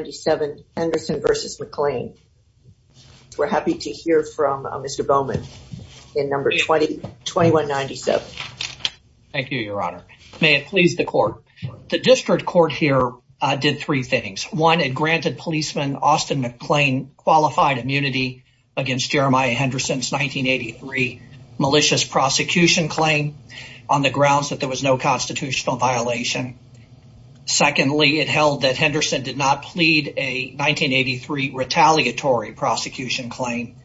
2197 Henderson v. McClain. We're happy to hear from Mr. Bowman in number 2197. Thank you, your honor. May it please the court. The district court here did three things. One, it granted policeman Austin McClain qualified immunity against Jeremiah Henderson's 1983 malicious prosecution claim on the grounds that there was no constitutional violation. Secondly, it held that Henderson did not plead a 1983 retaliatory prosecution claim.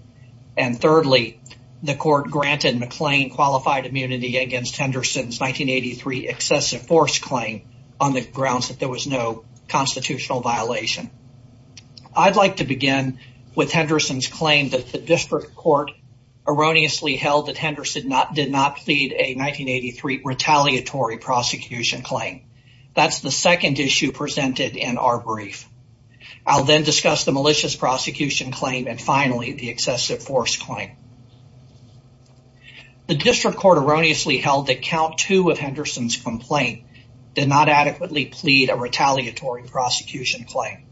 And thirdly, the court granted McClain qualified immunity against Henderson's 1983 excessive force claim on the grounds that there was no constitutional violation. I'd like to begin with Henderson's claim that the district court erroneously held that Henderson did not plead a 1983 retaliatory prosecution claim. That's the I'll then discuss the malicious prosecution claim. And finally, the excessive force claim. The district court erroneously held that count two of Henderson's complaint did not adequately plead a retaliatory prosecution claim.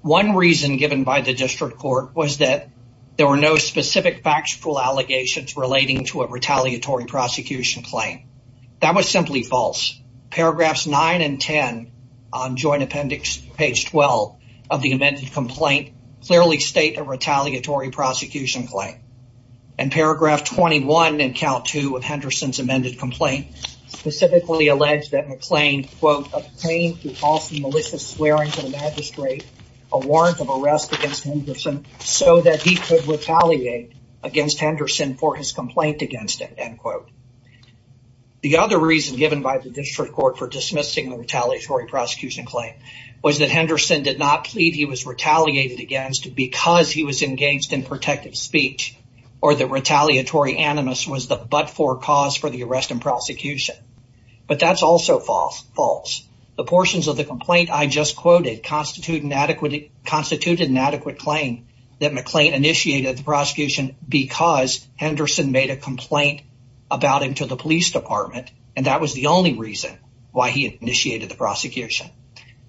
One reason given by the district court was that there were no specific factual allegations relating to a retaliatory prosecution claim. That was simply false. Paragraphs nine and 10 on joint appendix page 12 of the amended complaint clearly state a retaliatory prosecution claim. And paragraph 21 in count two of Henderson's amended complaint specifically alleged that McClain, quote, obtained through false and malicious swearing to the magistrate a warrant of arrest against Henderson so that he could retaliate against Henderson for his complaint against him, end quote. The other reason given by the district court for dismissing the retaliatory prosecution claim was that Henderson did not plead he was retaliated against because he was engaged in protective speech, or the retaliatory animus was the but-for cause for the arrest and prosecution. But that's also false. The portions of the complaint I just quoted constituted an adequate claim that McClain initiated the prosecution because Henderson made a complaint about him to the police department. And that was the only reason why he initiated the prosecution.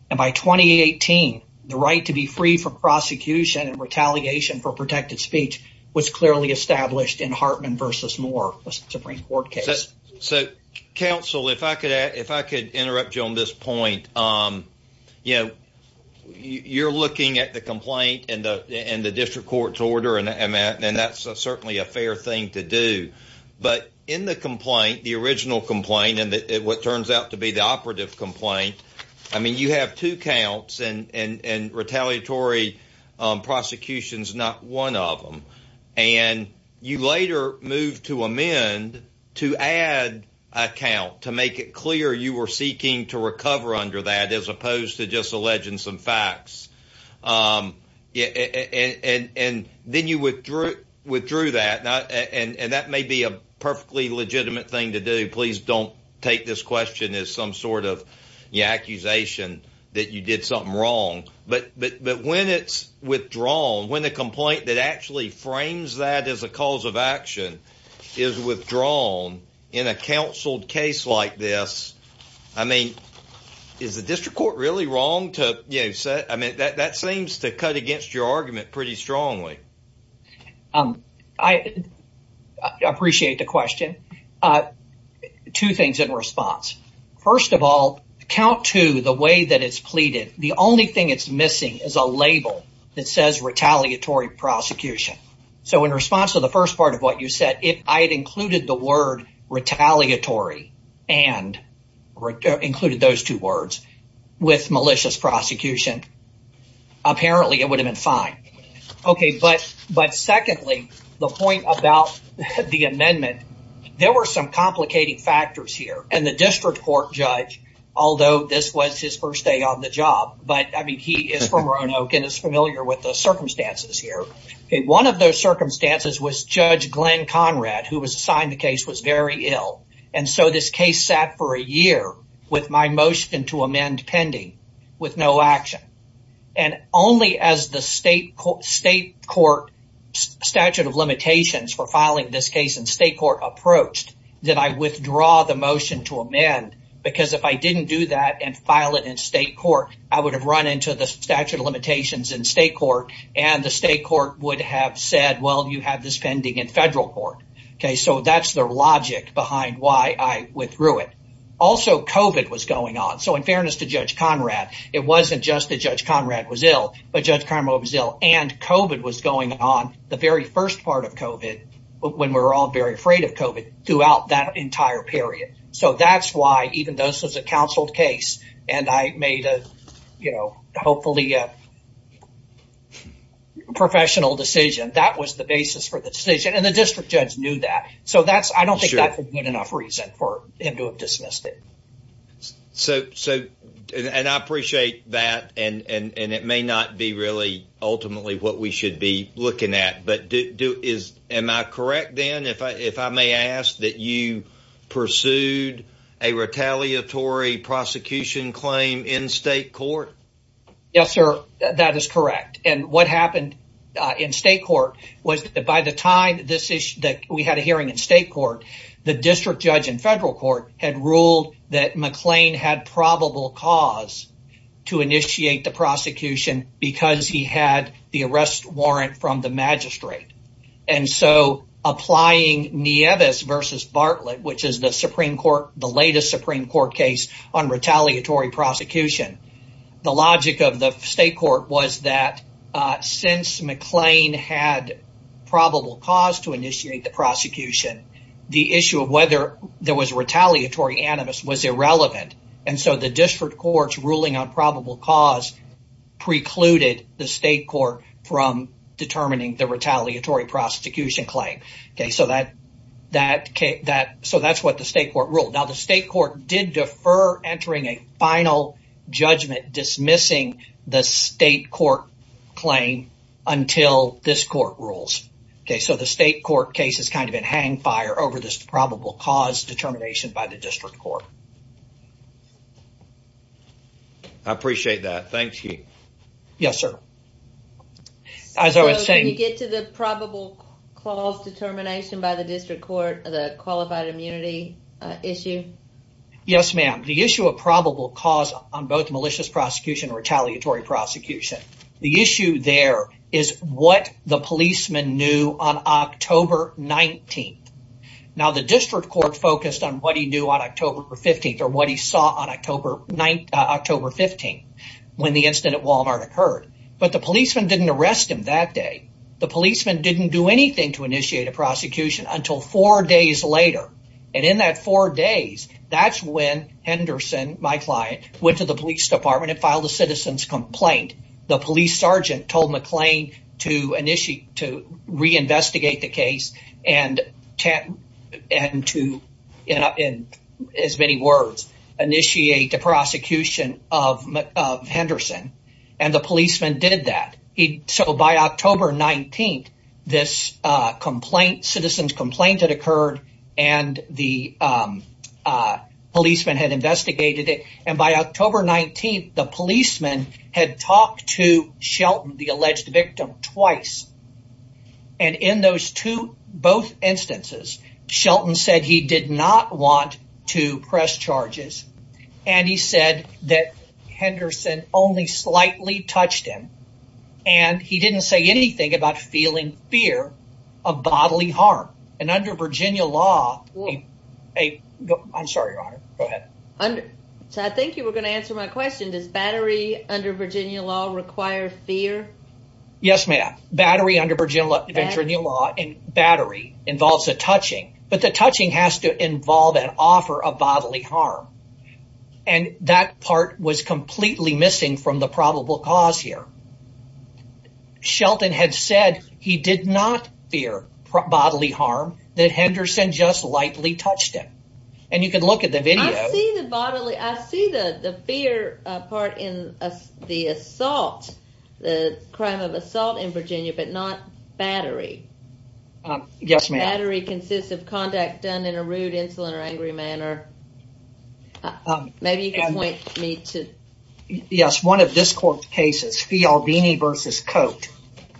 And by 2018, the right to be free from prosecution and retaliation for protective speech was clearly established in Hartman versus Moore Supreme Court case. So, counsel, if I could, if I could interrupt you on this point, um, you you're looking at the complaint and the and the district court's order and that and that's certainly a fair thing to do. But in the complaint, the original complaint, and what turns out to be the operative complaint, I mean, you have two counts and and retaliatory prosecutions, not one of them. And you later moved to amend to add account to make it clear you were seeking to recover under that as opposed to just alleging some facts. Um, and and then you withdrew, withdrew that and that may be a perfectly legitimate thing to do. Please don't take this question as some sort of accusation that you did something wrong. But but when it's withdrawn, when the complaint that actually frames that as a cause of action is withdrawn in a counsel case like this, I mean, is the district court really wrong to say? I mean, that seems to cut against your argument pretty strongly. I appreciate the question. Two things in response. First of all, count to the way that it's pleaded. The only thing it's missing is a label that says retaliatory prosecution. So in response to the first part of what you said, if I had included the word retaliatory and included those two words with malicious prosecution, apparently it would have been fine. Okay, but but secondly, the point about the amendment, there were some complicating factors here and the district court judge, although this was his first day on the job, but I mean, he is from Roanoke and is familiar with the circumstances here. One of those circumstances was Judge Glenn Conrad, who was assigned the case, was very ill. And so this case sat for a year with my motion to amend pending with no action. And only as the state court statute of limitations for filing this case in state court approached, did I withdraw the motion to amend? Because if I didn't do that and file it in state court, I would have run into the statute of limitations in state court would have said, well, you have this pending in federal court. Okay, so that's the logic behind why I withdrew it. Also, COVID was going on. So in fairness to Judge Conrad, it wasn't just that Judge Conrad was ill, but Judge Carmo was ill and COVID was going on the very first part of COVID, when we're all very afraid of COVID throughout that entire period. So that's why even though this was a counseled case, and I made a, you know, hopefully a professional decision, that was the basis for the decision. And the district judge knew that. So that's, I don't think that's a good enough reason for him to have dismissed it. So, so, and I appreciate that. And it may not be really ultimately what we should be looking at. But do is, am I correct, Dan, if I if I may ask that you pursued a retaliatory prosecution claim in state court? Yes, sir. That is correct. And what happened in state court was that by the time this is that we had a hearing in state court, the district judge in federal court had ruled that McLean had probable cause to initiate the prosecution because he had the arrest warrant from the magistrate. And so applying Nieves versus Bartlett, which is the Supreme Court, the latest Supreme Court case on retaliatory prosecution, the logic of the state court was that since McLean had probable cause to initiate the prosecution, the issue of whether there was retaliatory animus was irrelevant. And so the district court's ruling on probable cause precluded the state court from determining the retaliatory prosecution claim. So that that that so that's what the state court ruled. Now, the state court did defer entering a final judgment dismissing the state court claim until this court rules. So the state court case is kind of a hang fire over this probable cause determination by the district court. I appreciate that. Thank you. Yes, sir. As I was saying, you get to the probable cause determination by the district court, the qualified immunity issue. Yes, ma'am. The issue of probable cause on both malicious prosecution or retaliatory prosecution. The issue there is what the policeman knew on October 19th. Now the district court focused on what he knew on October 15th or what he saw on October 15th when the incident at Walmart occurred. But the policeman didn't arrest him that day. The policeman didn't do anything to initiate a prosecution until four days later. And in that four days, that's when Henderson, my client, went to the police department and filed a citizen's complaint. The police sergeant told McLean to reinvestigate the case and to, in as many words, initiate a prosecution of Henderson. And the policeman did that. So by October 19th, this citizen's complaint had occurred and the policeman had investigated it. And by October 19th, the policeman had talked to Shelton, the alleged victim, twice. And in those two, both instances, Shelton said he did not want to press charges. And he said that Henderson only slightly touched him. And he didn't say anything about feeling fear of bodily harm. And under Virginia law... I'm sorry, Your Honor. Go ahead. So I think you were going to answer my question. Does battery under Virginia law require fear? Yes, ma'am. Battery under Virginia law involves a touching. But the touching has to involve an offer of bodily harm. And that part was completely missing from the probable cause here. Shelton had said he did not fear bodily harm, that Henderson just lightly touched him. And you can look at the video. I see the bodily... I see the fear part in the assault, the crime of assault in Virginia, but not battery. Yes, ma'am. Battery consists of conduct done in a rude, insolent, or angry manner. Maybe you can point me to... Yes, one of this court's cases, Fialbini v. Cote,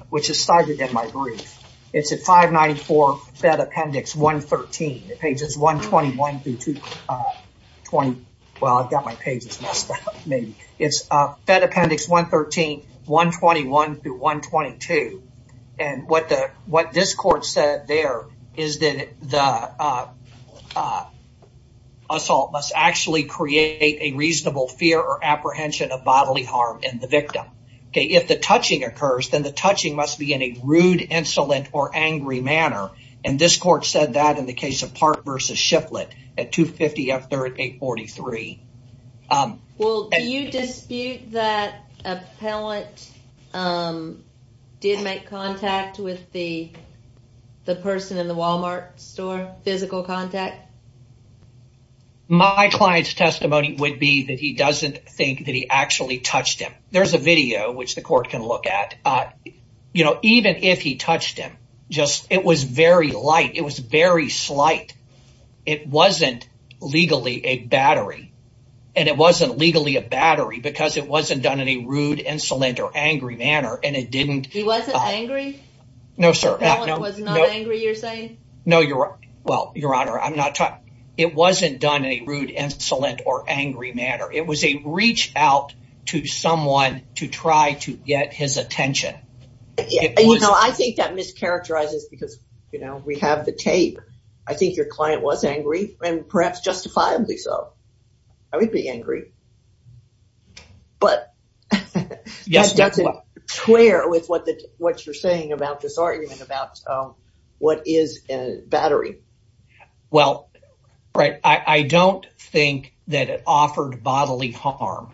which is cited in my brief. It's at 594 Fed Appendix 113, pages 121 through 122. Well, I've got my pages messed up, maybe. It's Fed Appendix 113, 121 through 122. And what this court said there is that the assault must actually create a reasonable fear or apprehension of bodily harm in the victim. If the touching occurs, then the touching must be in a rude, insolent, or angry manner. And this court said that in the case of Park v. Shiflett at 250 F. 3rd, 843. Well, do you dispute that appellant did make contact with the person in the Walmart store, physical contact? My client's testimony would be that he doesn't think that he actually touched him. There's a video which the court can look at. You know, even if he touched him, just it was very light. It was very slight. It wasn't legally a battery. And it wasn't legally a battery because it wasn't done in a rude, insolent, or angry manner. And it didn't. He wasn't angry? No, sir. The appellant was not angry, you're saying? No, you're right. Well, Your Honor, I'm not talking. It wasn't done in a rude, insolent, or angry manner. It was a reach out to someone to try to get his attention. Yeah, you know, I think that mischaracterizes because, you know, we have the tape. I think your client was angry, and perhaps justifiably so. I would be angry. But that doesn't square with what you're saying about this argument about what is a battery. Well, right. I don't think that it offered bodily harm.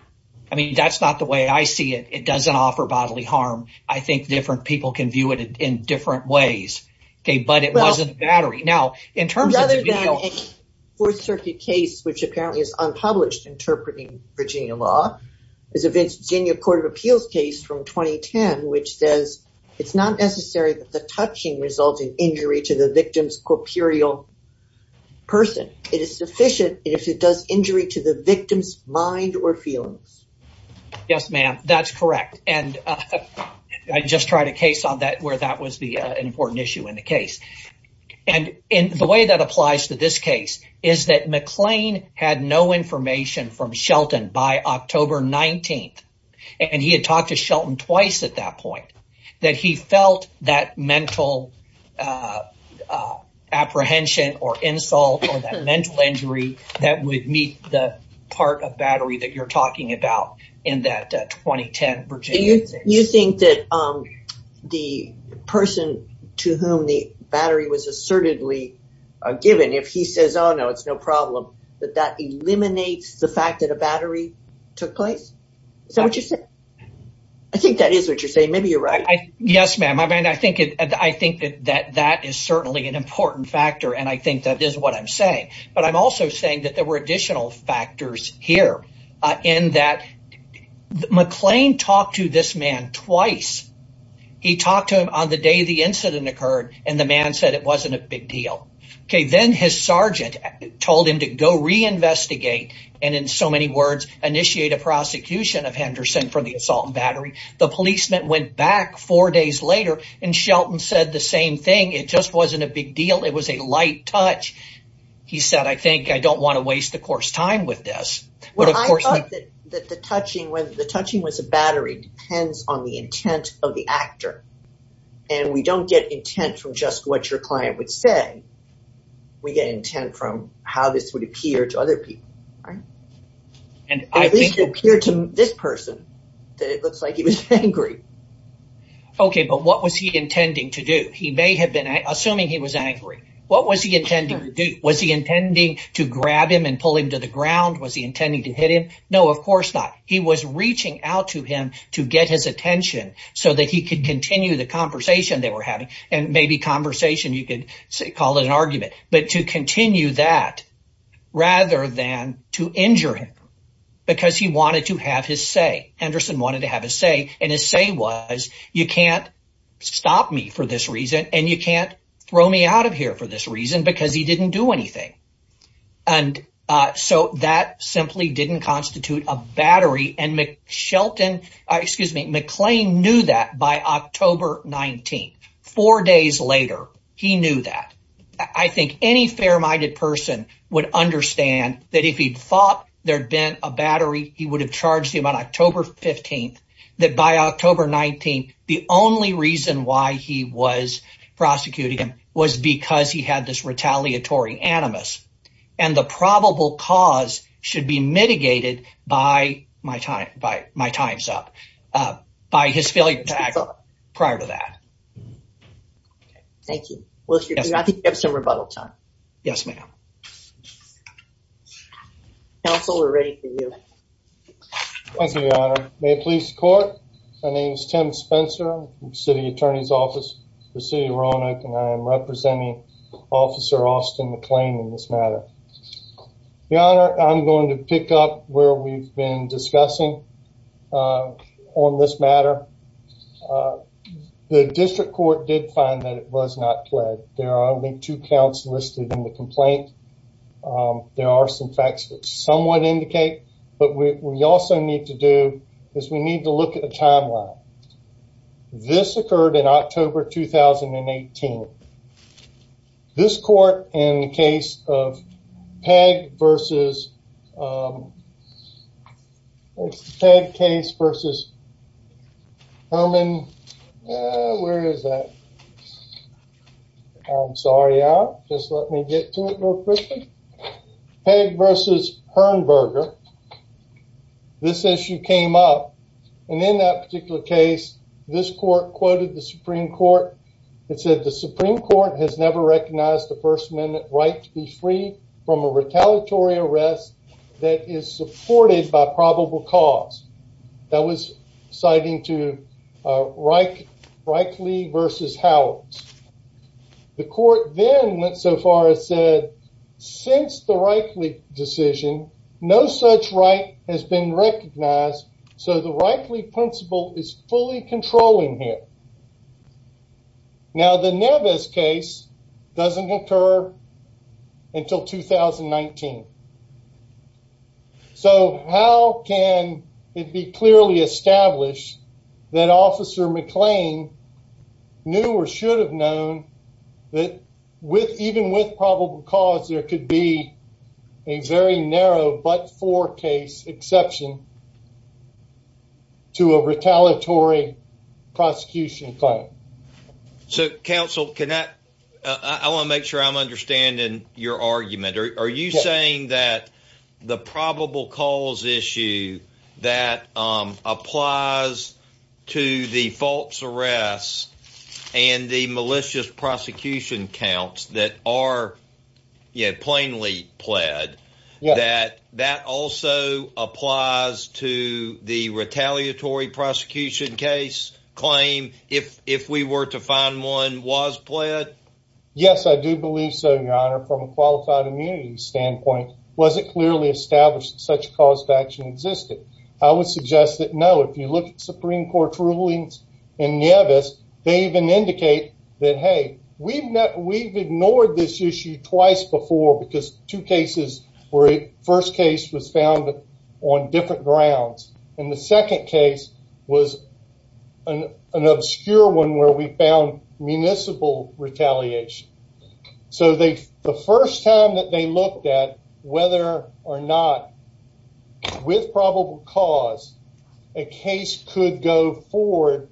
I mean, that's not the way I see it. It doesn't offer bodily harm. I think different people can view it in different ways. Okay, but it wasn't a battery. Now, in terms of the video... Rather than a Fourth Circuit case, which apparently is unpublished, interpreting Virginia law, is a Virginia Court of Appeals case from 2010, which says, it's not necessary that the touching resulted injury to the victim's corporeal person. It is sufficient if it does injury to the victim's mind or feelings. Yes, ma'am, that's correct. And I just tried a case on that where that was an important issue in the case. And in the way that applies to this case, is that McLean had no information from Shelton by October 19. And he had talked to Shelton twice at that point, that he felt that mental apprehension or insult or that mental injury that would meet the part of battery that you're talking about in that 2010 Virginia case. You think that the person to whom the battery was assertedly given, if he says, oh, no, it's no problem, that that eliminates the fact that a battery took place? Is that what you're saying? I think that is what you're saying. Maybe you're right. Yes, ma'am. I mean, I think that that is certainly an important factor. And I think that is what I'm saying. But I'm also saying that there were additional factors here, in that McLean talked to this man twice. He talked to him on the day the incident occurred, and the man said it wasn't a big deal. Okay, then his sergeant told him to go reinvestigate, and in so many words, initiate a prosecution of Henderson for the assault and battery. The policeman went back four days later, and Shelton said the same thing. It just wasn't a big deal. It was a light touch. He said, I think I don't want to waste the first time with this. Well, I thought that the touching was a battery depends on the intent of the actor. And we don't get intent from just what your client would say. We get intent from how this would appear to other people, right? At least it appeared to this person, that it looks like he was angry. Okay, but what was he intending to do? He may have been assuming he was angry. What was he intending to do? Was he intending to grab him and pull him to the ground? Was he intending to hit him? No, of course not. He was reaching out to him to get his attention so that he could continue the conversation they were having, and maybe conversation, you could call it an argument, but to continue that rather than to injure him, because he wanted to have his say. Henderson wanted to have a say, and his say was, you can't stop me for this reason. And you can't throw me out of here for this reason, because he didn't do anything. And so that simply didn't constitute a battery. And McClain knew that by October 19. Four days later, he knew that. I think any fair minded person would understand that if he'd thought there'd been a battery, he would have charged him on October 15th, that by October 19, the only reason why he was prosecuting him was because he had this retaliatory animus. And the probable cause should be mitigated by my time, by my time's up, by his failure to act prior to that. Thank you. Well, I think you have some rebuttal time. Yes, ma'am. Counsel, we're ready for you. Thank you, Your Honor. May it please the court. My name is Tim Spencer, City Attorney's Office for the City of Roanoke, and I am representing Officer Austin McClain in this matter. Your Honor, I'm going to pick up where we've been discussing on this matter. The district court did find that it was not pled. There are only two counts listed in the complaint. There are some facts that somewhat indicate, but we also need to do is we need to look at the timeline. This occurred in October 2018. This court in the case of Peg versus Peg case versus Herman. Where is that? I'm sorry. Just let me get to it real quick. This is Hearnberger. This issue came up, and in that particular case, this court quoted the Supreme Court. It said the Supreme Court has never recognized the First Amendment right to be free from a retaliatory arrest that is supported by probable cause. That was citing to Reichley versus Howard. The no such right has been recognized, so the Reichley principle is fully controlling here. Now, the Nevis case doesn't occur until 2019. So how can it be clearly established that Officer McClain knew or should have known that with even with probable cause, there could be a very narrow but four case exception to a retaliatory prosecution claim. So, Counsel, can that I want to make sure I'm understanding your argument. Are you saying that the probable cause issue that applies to the false arrests and the malicious prosecution counts that are plainly pled that that also applies to the retaliatory prosecution case claim? If if we were to find one was pled? Yes, I do believe so, Your Honor. From a qualified immunity standpoint, was it clearly established such cause action existed? I would suggest that no. If you look Supreme Court rulings in Nevis, they even indicate that. Hey, we've met. We've ignored this issue twice before because two cases were first case was found on different grounds, and the second case was an obscure one where we found municipal retaliation. So they the first time that they looked at whether or not with probable cause, a case could go forward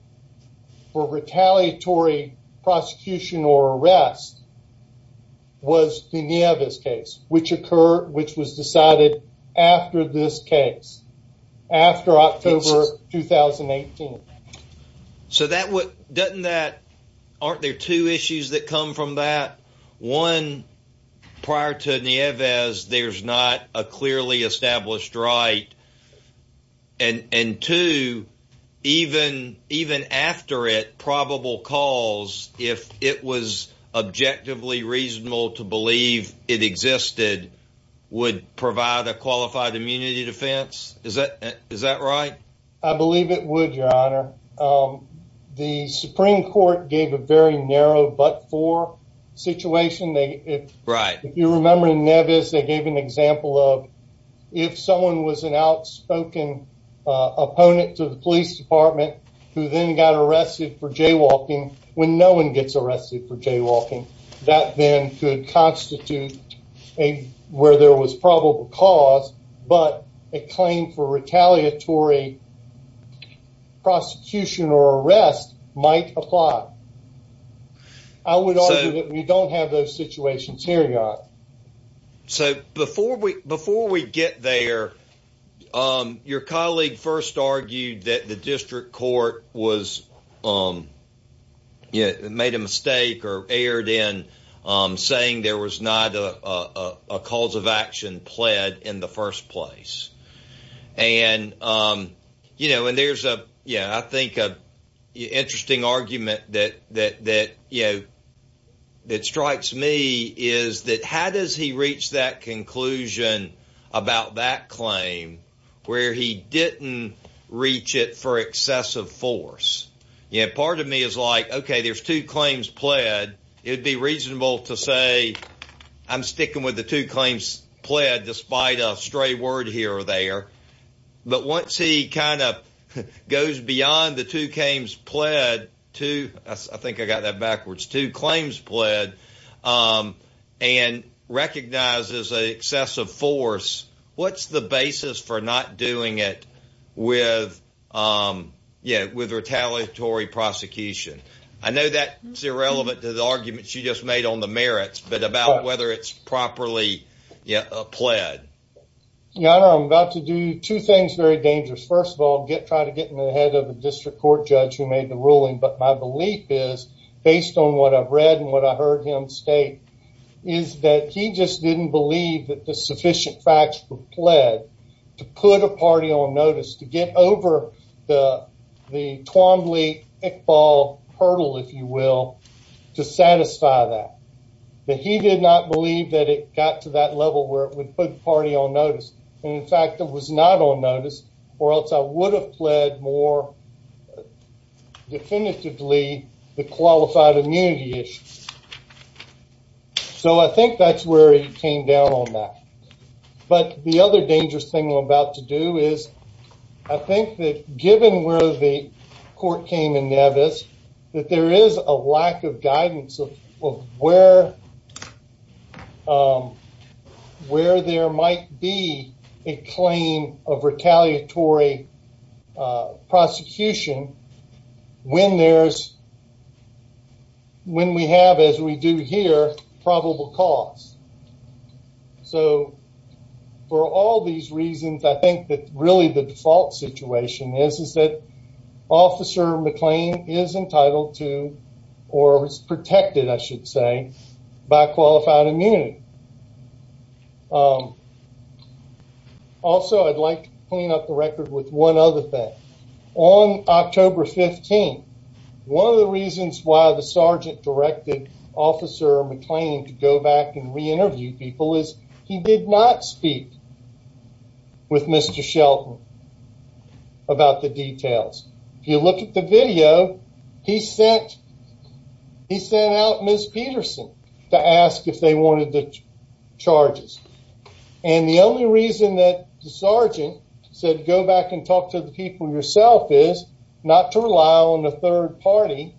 for retaliatory prosecution or arrest was the Nevis case, which occurred, which was decided after this case after October 2018. So that what doesn't that? Aren't there two issues that come from that one prior to Nevis? There's not a clearly established, right? And and to even even after it, probable calls, if it was objectively reasonable to believe it existed, would provide a qualified immunity defense. Is that is that right? I believe it would, Your Honor. Um, the Supreme Court gave a very narrow but for situation. They right. If you remember in Nevis, they gave an example of if someone was an outspoken opponent to the police department who then got arrested for jaywalking when no one gets arrested for jaywalking, that then could constitute a where there was probable cause, but a claim for retaliatory prosecution or arrest might apply. I would argue that we don't have those situations here, Your Honor. So before we before we get there, um, your colleague first argued that the district court was, um, yeah, made a mistake or erred in, um, saying there was not a cause of action pled in the first place. And, um, you know, and there's a, you know, I think a interesting argument that that that, you know, that strikes me is that how does he reach that conclusion about that claim where he didn't reach it for excessive force? You know, part of me is like, Okay, there's two claims pled. It would be reasonable to say I'm sticking with the two claims pled, despite a stray word here or there. But once he kind of goes beyond the two claims pled to, I think I got that backwards to claims pled, um, and recognizes excessive force. What's the basis for not doing it with? Um, yeah, with retaliatory prosecution. I know that's irrelevant to the arguments you just made on the merits, but about whether it's properly pled. Your Honor, I'm about to do two things very dangerous. First of all, get trying to get in the head of the district court judge who made the ruling. But my belief is based on what I've read and what I heard him state is that he just didn't believe that the sufficient facts were pled to put a party on notice to get over the Twombly-Iqbal hurdle, if you will, to satisfy that. That he did not believe that it got to that level where it would put party on notice. And in fact, it was not on notice or else I would have pled more definitively the qualified immunity issue. So I think that's where he came down on that. But the other dangerous thing I'm about to do is I think that given where the court came in Nevis, that there is a lack of guidance of where, um, where there might be a claim of retaliatory prosecution when there's, when we have, as we do here, probable cause. So for all these reasons, I think that really the default situation is is that Officer McLean is entitled to or is protected, I should say, by qualified immunity. Also, I'd like to clean up the record with one other thing. On October 15, one of the reasons why the sergeant directed Officer McLean to go back and re-interview people is he did not speak with Mr. Shelton about the details. If you look at the video, he sent, he sent out Ms. Peterson to ask if they wanted the charges. And the only reason that the sergeant said go back and talk to the people yourself is not to rely on the third party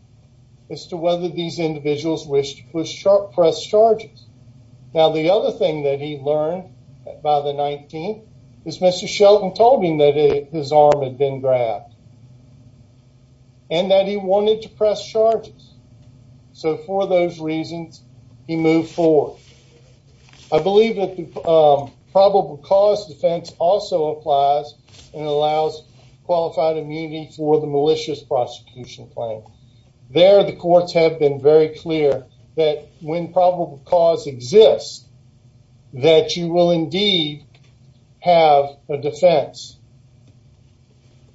as to whether these individuals wish to press charges. Now the other thing that he learned by the 19th is Mr. Shelton told him that his arm had been grabbed and that he wanted to press charges. So for those reasons, he moved forward. I and allows qualified immunity for the malicious prosecution claim. There the courts have been very clear that when probable cause exists, that you will indeed have a defense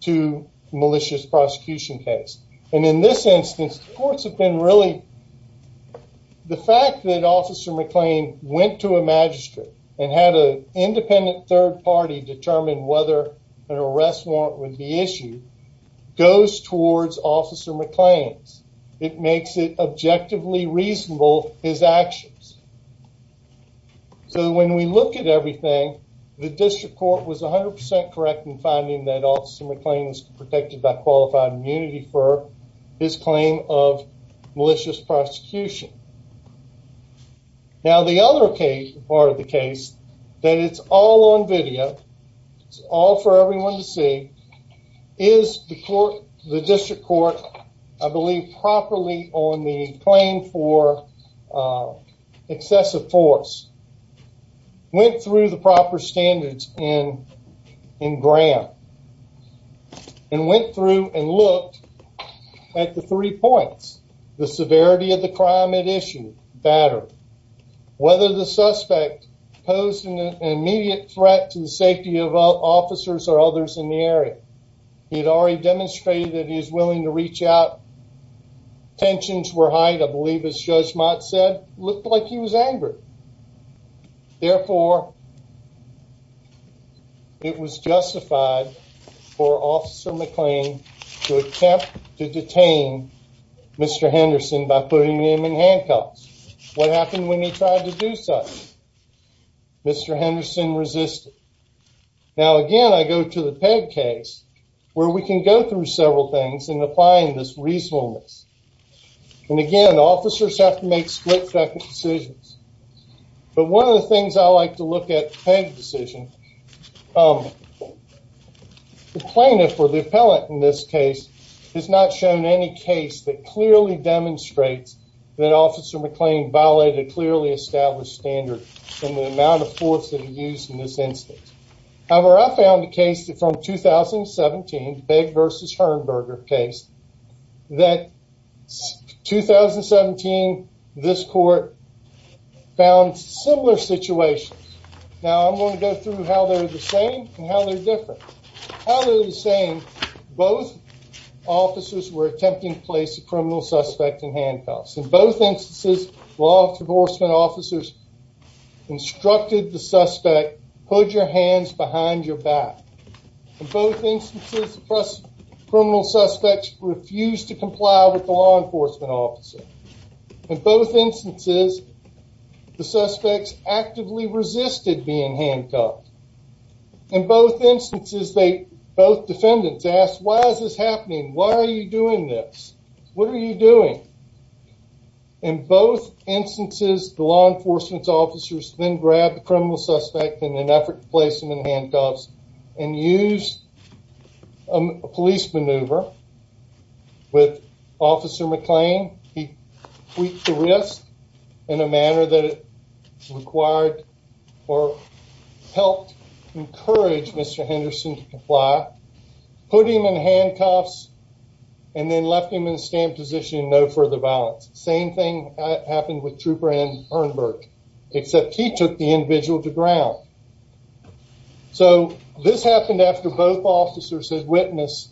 to malicious prosecution case. And in this instance, courts have been really, the fact that Officer McLean went to a magistrate and had an independent third party determine whether an arrest warrant would be issued goes towards Officer McLean. It makes it objectively reasonable his actions. So when we look at everything, the district court was 100% correct in finding that Officer McLean was protected by qualified immunity for his That it's all on video. It's all for everyone to see. Is the court, the district court, I believe properly on the claim for excessive force, went through the proper standards in Graham and went through and looked at the three points, the severity of the crime at issue, batter, whether the suspect posed an immediate threat to the safety of officers or others in the area. He had already demonstrated that he is willing to reach out. Tensions were high to believe, as Judge Mott said, looked like he was angry. Therefore, it was justified for Officer McLean to attempt to detain Mr. Henderson by putting him in handcuffs. What happened when he tried to do such? Mr. Henderson resisted. Now again, I go to the Peg case where we can go through several things in applying this reasonableness. And again, officers have to make split second decisions. But one of the things I like to look at the Peg decision, the plaintiff or the appellant in this case has not shown any case that clearly demonstrates that Officer McLean violated a clearly established standard in the amount of force that he used in this instance. However, I found a case that from 2017, Peg versus Herberger case, that 2017, this court found similar situations. Now I'm going to go through how they're the same and how they're different. How they're the same, both officers were attempting to place a criminal suspect in handcuffs. In both instances, law enforcement officers instructed the suspect, put your hands behind your back. In both instances, criminal suspects refused to comply with the law enforcement officer. In both instances, the suspects actively resisted being handcuffed. In both instances, they both defendants asked, Why is this what are you doing? In both instances, the law enforcement officers then grabbed the criminal suspect in an effort to place him in handcuffs and used a police maneuver with Officer McLean. He tweaked the risk in a manner that required or helped encourage Mr. Henderson to comply, put him in a stand position and no further violence. Same thing happened with Trooper N. Bernberg, except he took the individual to ground. So this happened after both officers had witnessed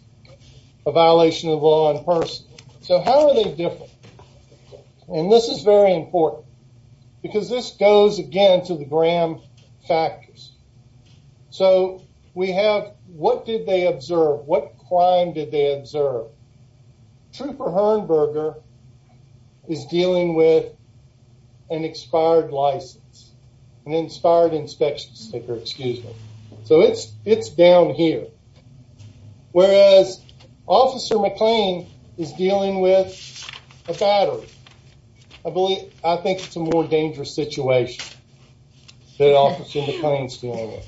a violation of law in person. So how are they different? And this is very important because this goes again to the Graham factors. So we have what did they observe? What crime did they observe? Trooper Herberger is dealing with an expired license, an inspired inspection sticker. Excuse me. So it's it's down here. Whereas Officer McLean is dealing with a battery. I believe I think it's a more dangerous situation that Officer McLean's dealing with.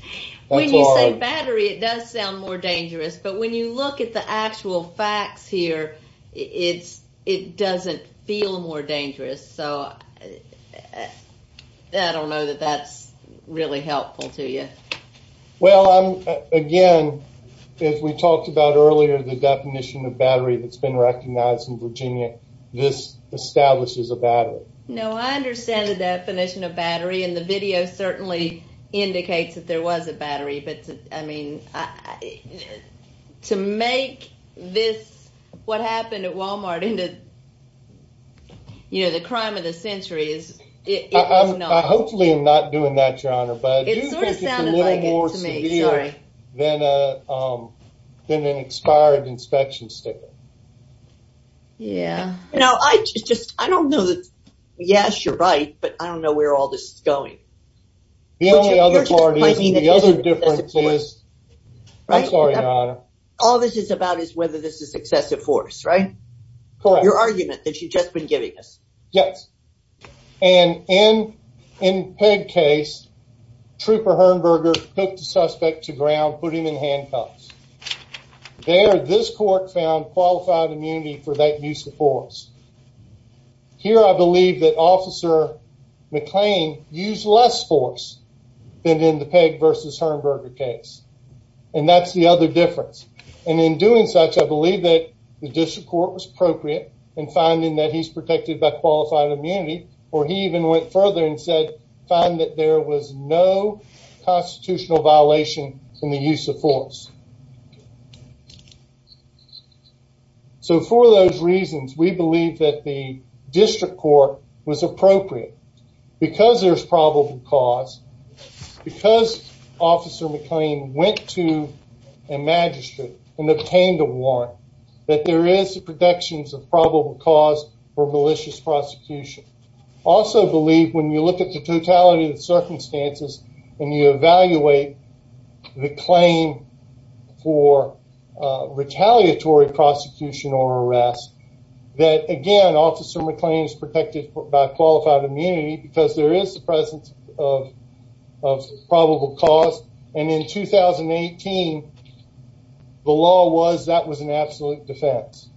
When you say battery, it does sound more dangerous. But when you look at the actual facts here, it's it doesn't feel more dangerous. So I don't know that that's really helpful to you. Well, again, if we talked about earlier, the definition of battery that's been recognized in Virginia, this establishes a battery. No, I understand the definition of battery and the video certainly indicates that there was a to make this what happened at Walmart into, you know, the crime of the century is hopefully not doing that, Your Honor. But it's a little more severe than an expired inspection sticker. Yeah, no, I just I don't know that. Yes, you're right. But I don't know where all this is going. The only other part is the I'm sorry, Your Honor. All this is about is whether this is excessive force, right? Correct. Your argument that you've just been giving us. Yes. And in in Peg case, Trooper Hurnberger took the suspect to ground, put him in handcuffs. There, this court found qualified immunity for that use of force. Here, I believe that Officer McLean used less force than in the Peg versus Hurnberger case, and that's the other difference. And in doing such, I believe that the district court was appropriate and finding that he's protected by qualified immunity. Or he even went further and said, find that there was no constitutional violation in the use of force. So for those reasons, we believe that the district court was appropriate because there's probable cause because Officer McLean went to a magistrate and obtained a warrant that there is protections of probable cause for malicious prosecution. Also believe when you look at the totality of the circumstances and you evaluate the claim for retaliatory prosecution or because there is the presence of probable cause. And in 2018, the law was that was an absolute defense.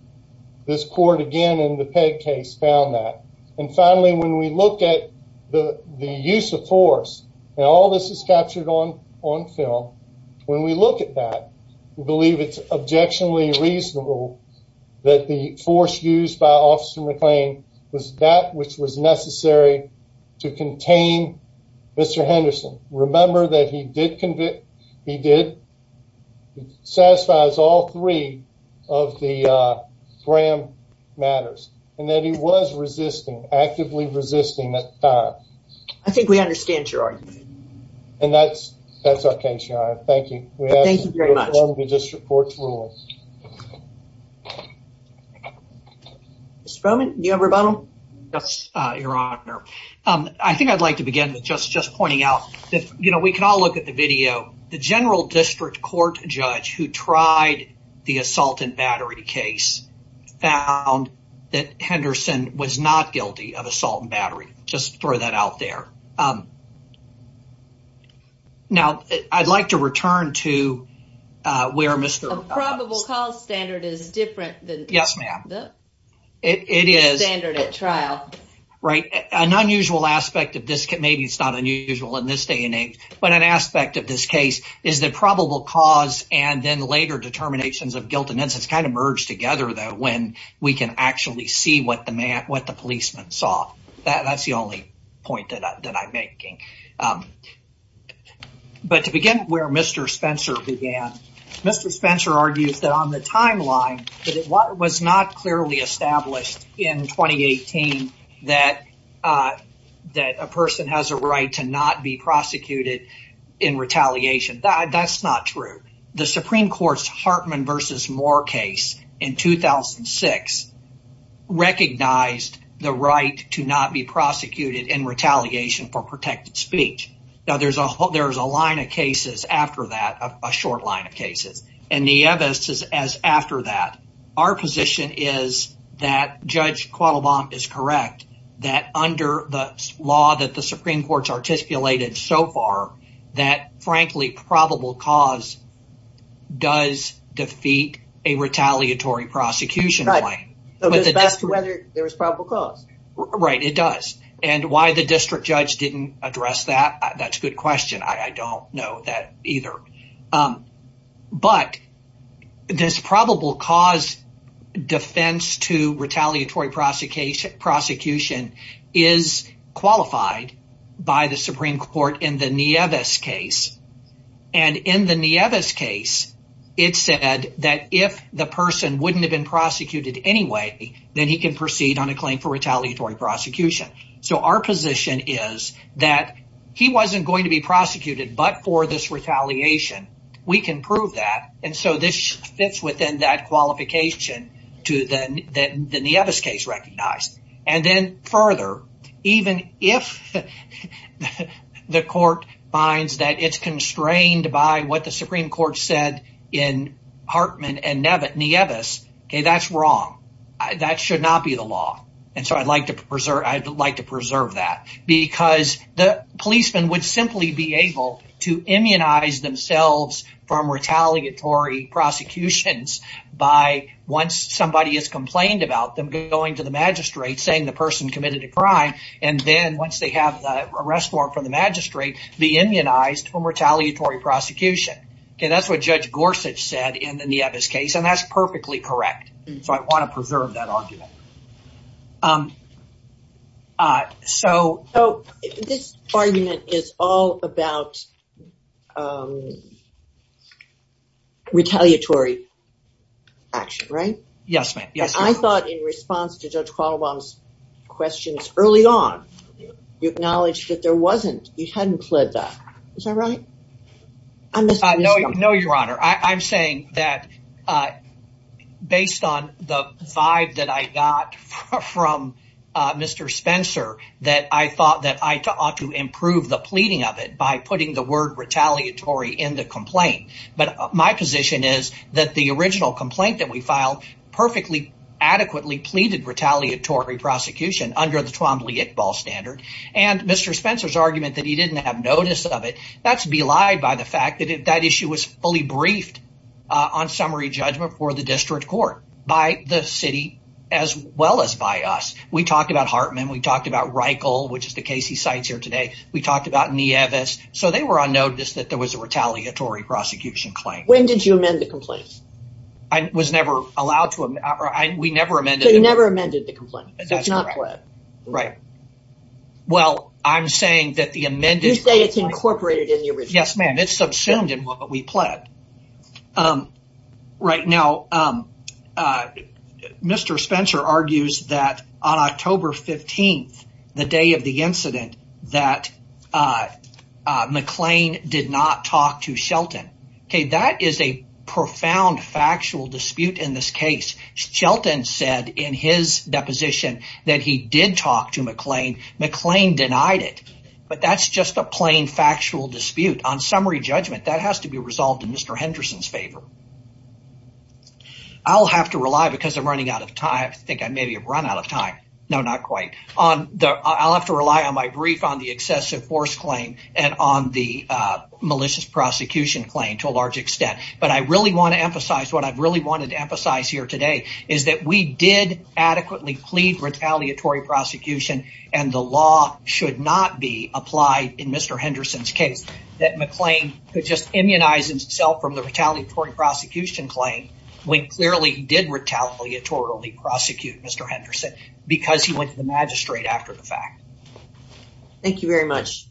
This court again in the Peg case found that. And finally, when we look at the use of force and all this is captured on on film. When we look at that, we believe it's objectionably reasonable that the to contain Mr. Henderson. Remember that he did convict he did satisfies all three of the Graham matters and that he was resisting actively resisting that time. I think we understand your argument, and that's that's our case. You are. Thank you. Thank you very much. District court rules. Mr. Bowman, you have a rebuttal? Yes, Your Honor. I think I'd like to begin with just just pointing out that, you know, we can all look at the video. The general district court judge who tried the assault and battery case found that Henderson was not guilty of assault and battery. Just throw that out there. Um, now I'd like to return to where Mr. Probable call standard is different. Yes, ma'am. It is standard at trial, right? An unusual aspect of this. Maybe it's not unusual in this day and age, but an aspect of this case is that probable cause and then later determinations of guilt and innocence kind of merged together that when we can actually see what the man what the making. But to begin where Mr. Spencer began, Mr. Spencer argues that on the timeline that it was not clearly established in 2018 that that a person has a right to not be prosecuted in retaliation. That's not true. The Supreme Court's Hartman v. Moore case in 2006 recognized the right to not be protected speech. Now, there's a there's a line of cases after that, a short line of cases and the evidence is as after that our position is that Judge Kuala Lump is correct that under the law that the Supreme Court's articulated so far that, frankly, probable cause does defeat a retaliatory prosecution, right? But the best whether there's probable cause right, it does. And why the district judge didn't address that? That's a good question. I don't know that either. But this probable cause defense to retaliatory prosecution is qualified by the Supreme Court in the Nieves case. And in the Nieves case, it said that if the person wouldn't have been So our position is that he wasn't going to be prosecuted, but for this retaliation, we can prove that. And so this fits within that qualification to the Nieves case recognized. And then further, even if the court finds that it's constrained by what the Supreme Court said in Hartman and Nieves, okay, that's wrong. That should not be the law. And so I'd like to preserve that because the policeman would simply be able to immunize themselves from retaliatory prosecutions by once somebody has complained about them going to the magistrate saying the person committed a crime, and then once they have the arrest warrant from the magistrate, be immunized from retaliatory prosecution. Okay, that's what Judge Gorsuch said in the Nieves case. And that's perfectly correct. So I want to preserve that argument. So, this argument is all about retaliatory action, right? Yes, ma'am. Yes. I thought in response to Judge Qualbaum's questions early on, you acknowledged that there wasn't, you based on the vibe that I got from Mr. Spencer, that I thought that I ought to improve the pleading of it by putting the word retaliatory in the complaint. But my position is that the original complaint that we filed perfectly adequately pleaded retaliatory prosecution under the Twombly-Iqbal standard. And Mr. Spencer's argument that he didn't have notice of it, that's on summary judgment for the district court by the city, as well as by us. We talked about Hartman. We talked about Reichel, which is the case he cites here today. We talked about Nieves. So they were on notice that there was a retaliatory prosecution claim. When did you amend the complaint? I was never allowed to. We never amended it. You never amended the complaint. That's not pledged. Right. Well, I'm saying that the amended... You say it's incorporated Yes, ma'am. It's subsumed in what we pledged. Right now, Mr. Spencer argues that on October 15th, the day of the incident, that McLean did not talk to Shelton. Okay. That is a profound factual dispute in this case. Shelton said in his deposition that he did talk to McLean. McLean denied it. But that's just a plain factual dispute on summary judgment that has to be resolved in Mr. Henderson's favor. I'll have to rely because I'm running out of time. I think I maybe have run out of time. No, not quite. I'll have to rely on my brief on the excessive force claim and on the malicious prosecution claim to a large extent. But I really want to emphasize what I've really wanted to emphasize here today is that we did adequately plead retaliatory prosecution, and the Mr. Henderson's case, that McLean could just immunize himself from the retaliatory prosecution claim when clearly he did retaliatory prosecute Mr. Henderson because he went to the magistrate after the fact. Thank you very much.